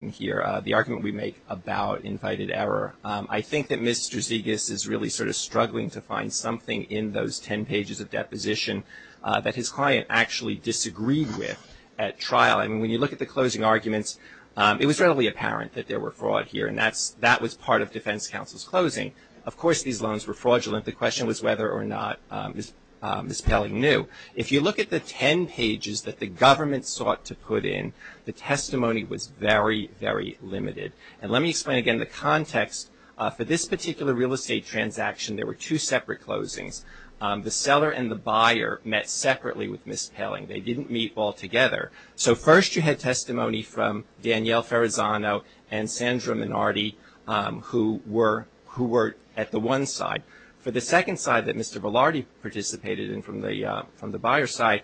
here, the argument we make about invited error. I think that Mr. Zegas is really sort of struggling to find something in those 10 pages of deposition that his client actually disagreed with at trial. I mean, when you look at the closing arguments, it was readily apparent that there were fraud here, and that was part of defense counsel's closing. Of course, these loans were fraudulent. The question was whether or not Ms. Paling knew. If you look at the 10 pages that the government sought to put in, the testimony was very, very limited. And let me explain again the context. For this particular real estate transaction, there were two separate closings. The seller and the buyer met separately with Ms. Paling. They didn't meet all together. So first you had testimony from Danielle Ferrazano and Sandra Minardi, who were at the one side. For the second side that Mr. Velarde participated in from the buyer's side,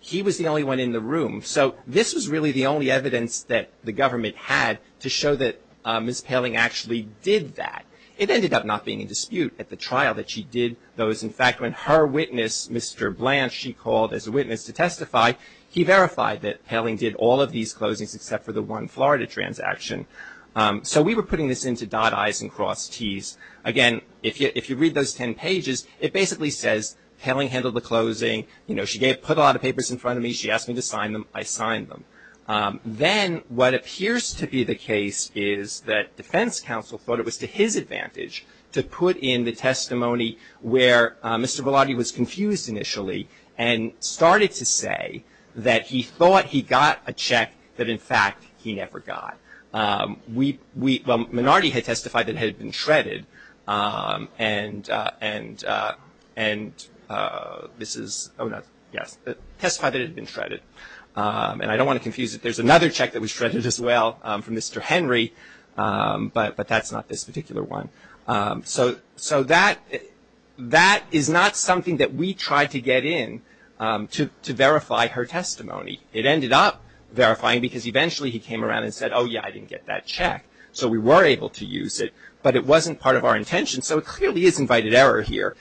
he was the only one in the room. So this was really the only evidence that the government had to show that Ms. Paling actually did that. It ended up not being in dispute at the trial that she did those. In fact, when her witness, Mr. Blanche, she called as a witness to testify, he verified that Paling did all of these closings except for the one Florida transaction. So we were putting this into dot I's and cross T's. Again, if you read those 10 pages, it basically says Paling handled the closing. She put a lot of papers in front of me. She asked me to sign them. I signed them. Then what appears to be the case is that defense counsel thought it was to his advantage to put in the testimony where Mr. Velarde was confused initially and started to say that he thought he got a check that, in fact, he never got. Well, Minardi had testified that it had been shredded, and I don't want to confuse it. There's another check that was shredded as well from Mr. Henry, but that's not this particular one. So that is not something that we tried to get in to verify her testimony. It ended up verifying because eventually he came around and said, oh, yeah, I didn't get that check. So we were able to use it, but it wasn't part of our intention. So it clearly is invited error here.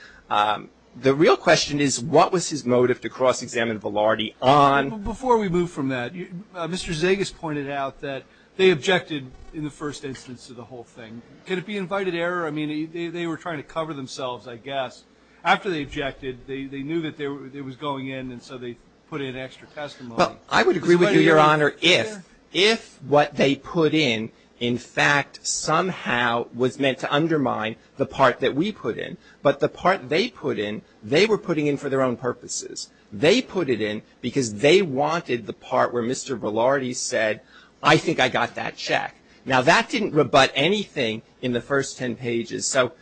The real question is what was his motive to cross-examine Velarde on? Before we move from that, Mr. Zegas pointed out that they objected in the first instance of the whole thing. Could it be invited error? I mean, they were trying to cover themselves, I guess. After they objected, they knew that it was going in, and so they put in extra testimony. I would agree with you, Your Honor, if what they put in, in fact, somehow was meant to undermine the part that we put in. But the part they put in, they were putting in for their own purposes. They put it in because they wanted the part where Mr. Velarde said, I think I got that check. Now, that didn't rebut anything in the first ten pages. So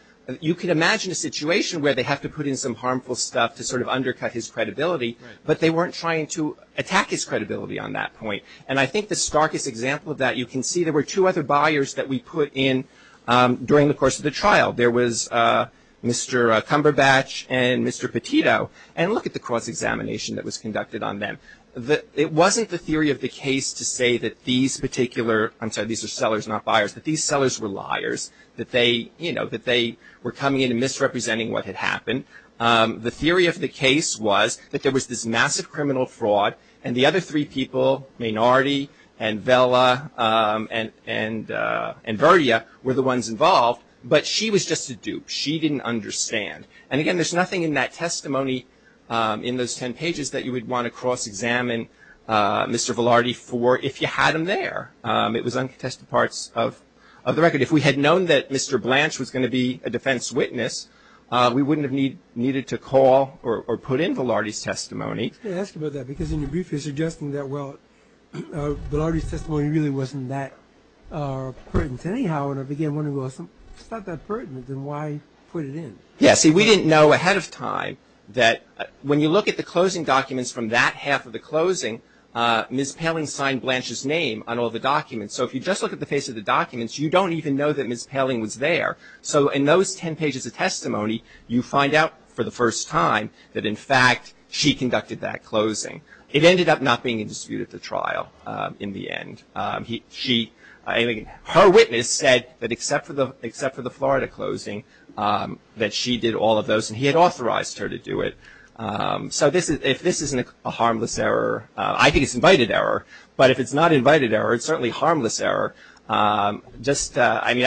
you can imagine a situation where they have to put in some harmful stuff to sort of undercut his credibility, but they weren't trying to attack his credibility on that point. And I think the starkest example of that, you can see there were two other buyers that we put in during the course of the trial. There was Mr. Cumberbatch and Mr. Petito. And look at the cross-examination that was conducted on them. It wasn't the theory of the case to say that these particular, I'm sorry, these are sellers, not buyers, that these sellers were liars, that they, you know, that they were coming in and misrepresenting what had happened. The theory of the case was that there was this massive criminal fraud and the other three people, Mainardi and Vella and Verdia, were the ones involved. But she was just a dupe. She didn't understand. And again, there's nothing in that testimony in those ten pages that you would want to cross-examine Mr. Velarde for if you had him there. It was uncontested parts of the record. If we had known that Mr. Blanche was going to be a defense witness, we wouldn't have needed to call or put in Velarde's testimony. Let me ask you about that, because in your brief you're suggesting that, well, Velarde's testimony really wasn't that pertinent. Anyhow, and I began wondering, well, if it's not that pertinent, then why put it in? Yes. See, we didn't know ahead of time that when you look at the closing documents from that half of the closing, Ms. Poehling signed Blanche's name on all the documents. So if you just look at the face of the documents, you don't even know that Ms. Poehling was there. So in those ten pages of testimony, you find out for the first time that, in fact, she conducted that closing. It ended up not being in dispute at the trial in the end. Her witness said that except for the Florida closing, that she did all of those, and he had authorized her to do it. So if this isn't a harmless error, I think it's invited error. But if it's not invited error, it's certainly harmless error. Just, I mean,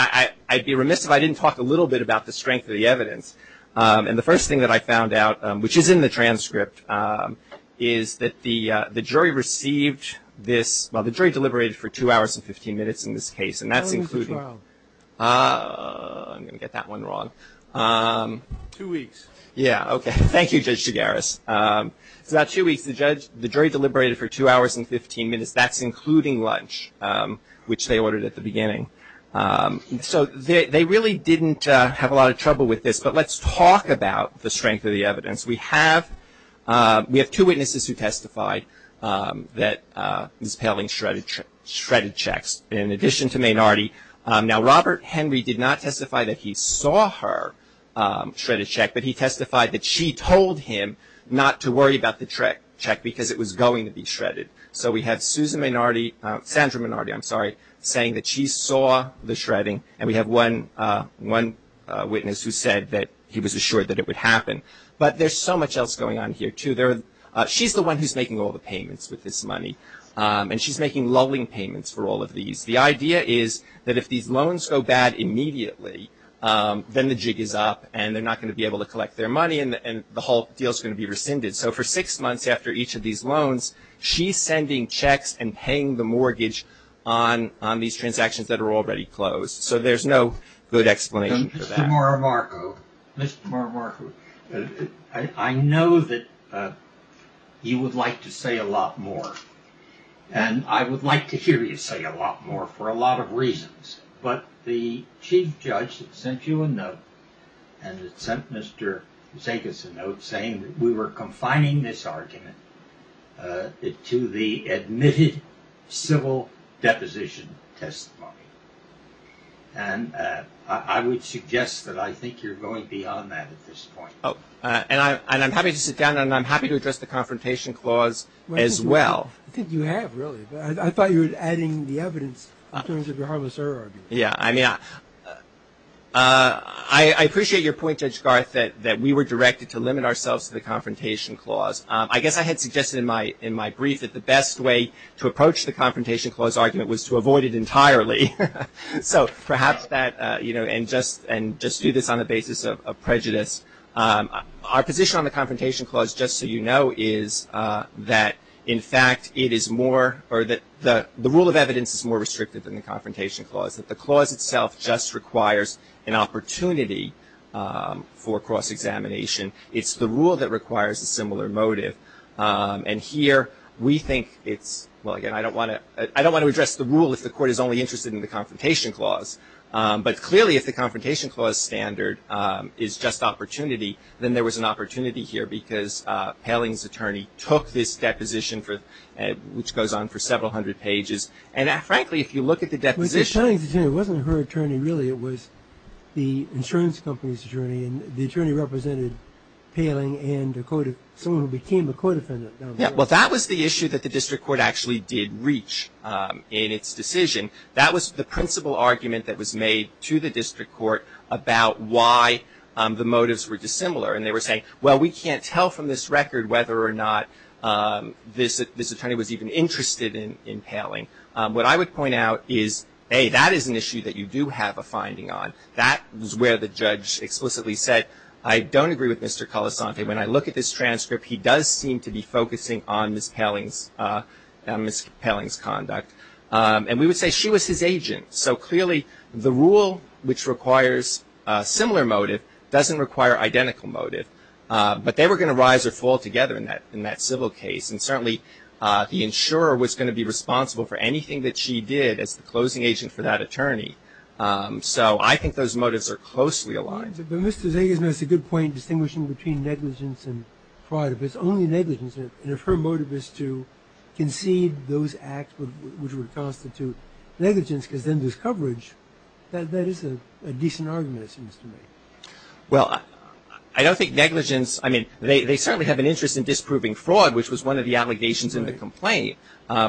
I'd be remiss if I didn't talk a little bit about the strength of the evidence. And the first thing that I found out, which is in the transcript, is that the jury received this, well, the jury deliberated for two hours and 15 minutes in this case, and that's including- How long was the trial? I'm going to get that one wrong. Two weeks. Yeah. Okay. Thank you, Judge Chigarris. It's about two weeks. The jury deliberated for two hours and 15 minutes. That's including lunch, which they ordered at the beginning. So they really didn't have a lot of trouble with this, but let's talk about the strength of the evidence. We have two witnesses who testified that Ms. Poehling shredded checks in addition to Maynardi. Now, Robert Henry did not testify that he saw her shred a check, but he testified that she told him not to worry about the check because it was going to be shredded. So we have Susan Maynardi-Sandra Maynardi, I'm sorry, saying that she saw the shredding, and we have one witness who said that he was assured that it would happen. But there's so much else going on here, too. She's the one who's making all the payments with this money, and she's making lulling payments for all of these. The idea is that if these loans go bad immediately, then the jig is up, and they're not going to be able to collect their money, and the whole deal is going to be rescinded. So for six months after each of these loans, she's sending checks and paying the mortgage on these transactions that are already closed. So there's no good explanation for that. Mr. Morimarco, Mr. Morimarco, I know that you would like to say a lot more, and I would like to hear you say a lot more for a lot of reasons, but the chief judge sent you a statement to the admitted civil deposition testimony, and I would suggest that I think you're going beyond that at this point. Oh, and I'm happy to sit down, and I'm happy to address the Confrontation Clause as well. I think you have, really. I thought you were adding the evidence in terms of your harmless error argument. Yeah, I mean, I appreciate your point, Judge Garth, that we were directed to limit ourselves to the Confrontation Clause. I guess I had suggested in my brief that the best way to approach the Confrontation Clause argument was to avoid it entirely. So perhaps that, you know, and just do this on the basis of prejudice. Our position on the Confrontation Clause, just so you know, is that, in fact, it is more, or that the rule of evidence is more restrictive than the Confrontation Clause, that the clause itself just requires an opportunity for cross-examination. It's the rule that requires a similar motive, and here we think it's, well, again, I don't want to address the rule if the Court is only interested in the Confrontation Clause, but clearly if the Confrontation Clause standard is just opportunity, then there was an opportunity here because Poehling's attorney took this deposition, which goes on for several hundred pages, and frankly, if you look at the deposition Well, Poehling's attorney wasn't her attorney, really. It was the insurance company's attorney, and the attorney represented Poehling and someone who became a court defendant. Yeah, well, that was the issue that the District Court actually did reach in its decision. That was the principal argument that was made to the District Court about why the motives were dissimilar, and they were saying, well, we can't tell from this record whether or not this attorney was even interested in Poehling. What I would point out is, hey, that is an issue that you do have a finding on. That is where the judge explicitly said, I don't agree with Mr. Colasanti. When I look at this transcript, he does seem to be focusing on Ms. Poehling's conduct, and we would say she was his agent, so clearly the rule which requires a similar motive doesn't require identical motive, but they were going to rise or fall together in that civil case, and certainly the insurer was going to be responsible for anything that she did as the closing agent for that attorney. So I think those motives are closely aligned. But Mr. Zagisman has a good point distinguishing between negligence and fraud. If it's only negligence, and if her motive is to concede those acts which would constitute negligence because then there's coverage, that is a decent argument, it seems to me. Well, I don't think negligence – I mean, they certainly have an interest in disproving fraud, which was one of the allegations in the complaint,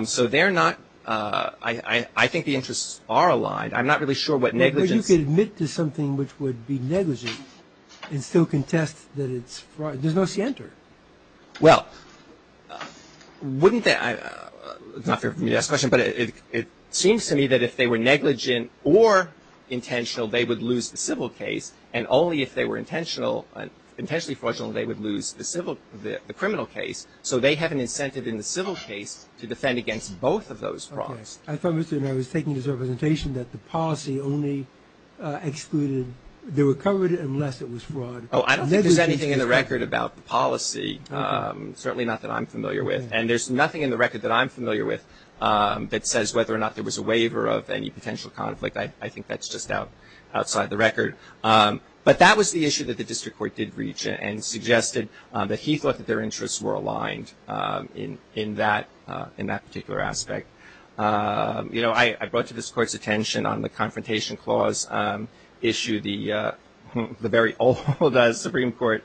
so they're not – I think the interests are aligned. I'm not really sure what negligence – But you could admit to something which would be negligent and still contest that it's fraud. There's no center. Well, wouldn't that – it's not fair for me to ask the question, but it seems to me that if they were negligent or intentional, they would lose the civil case, and only if they were intentional – intentionally fraudulent, they would lose the civil – the criminal case. So they have an incentive in the civil case to have those frauds. Okay. I thought, Mr. – and I was taking this representation that the policy only excluded – they were covered unless it was fraud. Oh, I don't think there's anything in the record about the policy, certainly not that I'm familiar with, and there's nothing in the record that I'm familiar with that says whether or not there was a waiver of any potential conflict. I think that's just outside the record. But that was the issue that the district court did reach and suggested that he thought that their interests were aligned in that particular aspect. You know, I brought to this court's attention on the Confrontation Clause issue, the very old Supreme Court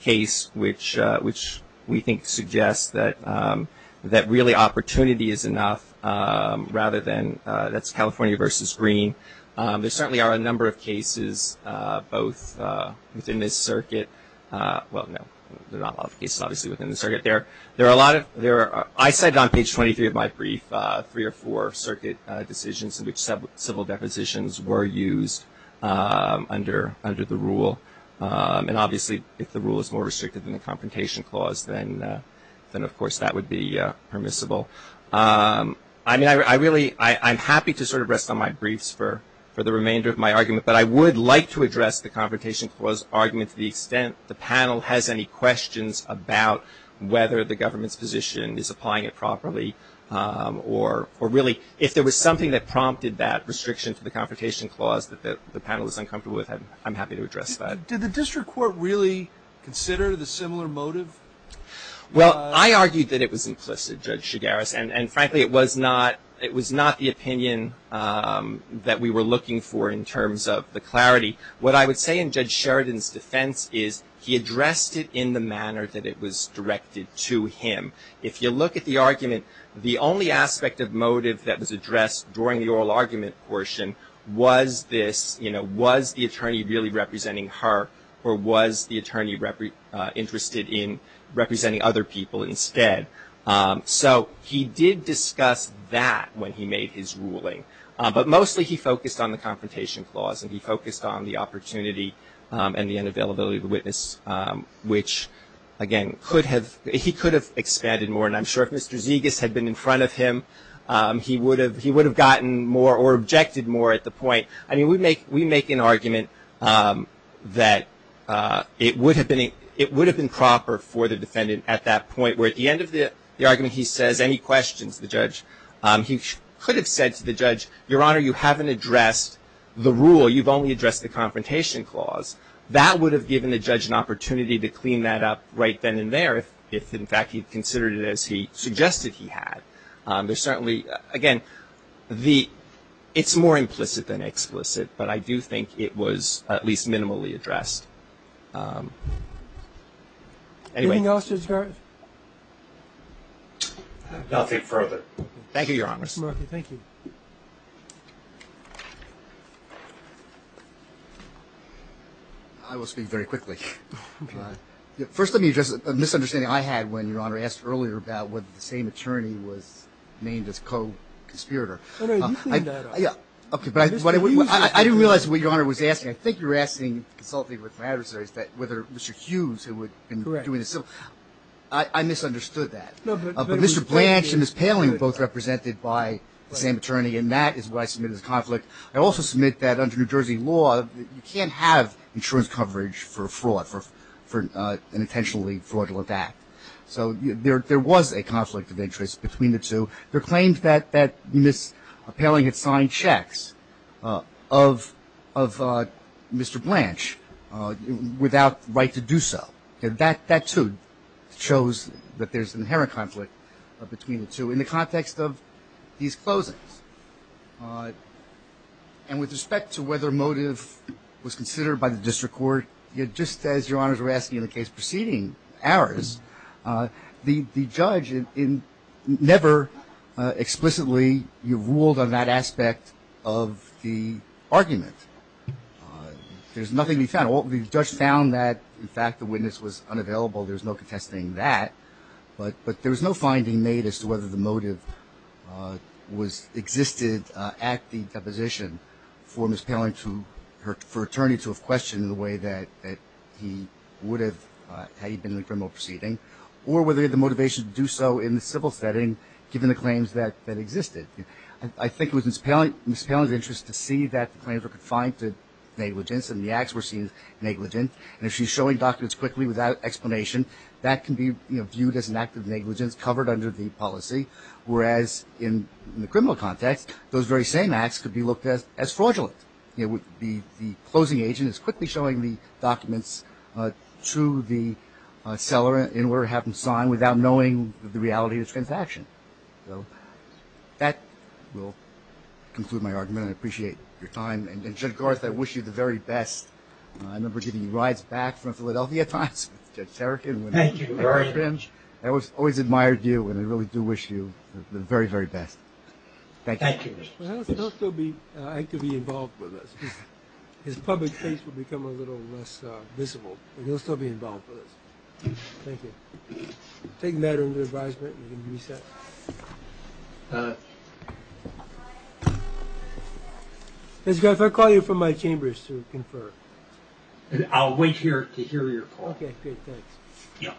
case which we think suggests that really opportunity is enough rather than – that's California versus Green. There certainly are a number of cases both within this circuit – well, no, there are not a lot of cases obviously within the circuit. There are a lot of – I said on page 23 of my brief three or four circuit decisions in which civil depositions were used under the rule. And obviously, if the rule is more restricted than the Confrontation Clause, then of course that would be permissible. I mean, I really – I'm happy to sort of rest on my briefs for the remainder of my argument. But I would like to address the Confrontation Clause argument to the extent the panel has any questions about whether the government's position is applying it properly or really if there was something that prompted that restriction to the Confrontation Clause that the panel is uncomfortable with, I'm happy to address that. Did the district court really consider the similar motive? Well, I argued that it was implicit, Judge Shigaris, and frankly, it was not the opinion that we were looking for in terms of the clarity. What I would say in Judge Sheridan's defense is he addressed it in the manner that it was directed to him. If you look at the argument, the only aspect of motive that was addressed during the oral argument portion was this, you know, was the attorney really representing her or was the attorney interested in representing other people instead. So he did discuss that when he made his ruling. But mostly he focused on the Confrontation Clause and he focused on the opportunity and the unavailability of the witness, which, again, he could have expanded more. And I'm sure if Mr. Zegas had been in front of him, he would have gotten more or objected more at the point. I mean, we make an argument that it would have been proper for the defendant at that point where at the end of the argument he says any questions to the judge. He could have said to the judge, Your Honor, you haven't addressed the rule. You've only addressed the Confrontation Clause. That would have given the judge an opportunity to clean that up right then and there if, in fact, he had considered it as he suggested he had. There's certainly, again, it's more implicit than explicit, but I do think it was at least minimally addressed. Anything else, Judge Garrett? Nothing further. Thank you, Your Honors. Thank you. I will speak very quickly. First let me address a misunderstanding I had when Your Honor asked earlier about whether the same attorney was named as co-conspirator. I didn't realize what Your Honor was asking. I think you're asking, consulting with my adversaries, whether Mr. Hughes who had been doing this. I misunderstood that. Mr. Blanch and Ms. Paling were both represented by the same attorney, and that is what I submit as a conflict. I also submit that under New Jersey law, you can't have insurance coverage for fraud, for an intentionally fraudulent act. So there was a conflict of interest between the two. There are claims that Ms. Paling had signed checks of Mr. Blanch without right to do so. That, too, shows that there's inherent conflict between the two in the context of these closings. And with respect to whether motive was considered by the district court, just as Your Honors were asking in the case preceding ours, the judge never explicitly ruled on that aspect of the argument. There's nothing we found. The judge found that, in fact, the witness was unavailable. There's no contesting that. But there was no finding made as to whether the motive existed at the deposition for Ms. Paling to have questioned in the way that he would have had he been in a criminal proceeding, or whether the motivation to do so in the civil setting given the claims that existed. I think it was Ms. Paling's interest to see that the claims were confined to negligence and the acts were seen as negligent. And if she's showing documents quickly without explanation, that can be viewed as an act of negligence covered under the policy, whereas in the criminal context, those very same acts could be looked at as fraudulent. The closing agent is quickly showing the documents to the seller in order to have them signed without knowing the reality of his transaction. So that will conclude my argument. I appreciate your time. And, Judge Garth, I wish you the very best. I remember giving you rides back from Philadelphia at times with Judge Tarrakin. Thank you. I always admired you, and I really do wish you the very, very best. Thank you. Thank you. He'll still be actively involved with us. His public face will become a little less visible, but he'll still be involved with us. Thank you. Take matter into advisement and you can reset. Judge Garth, I'll call you from my chambers to confer. I'll wait here to hear your call. Okay, great. Thanks. Yeah.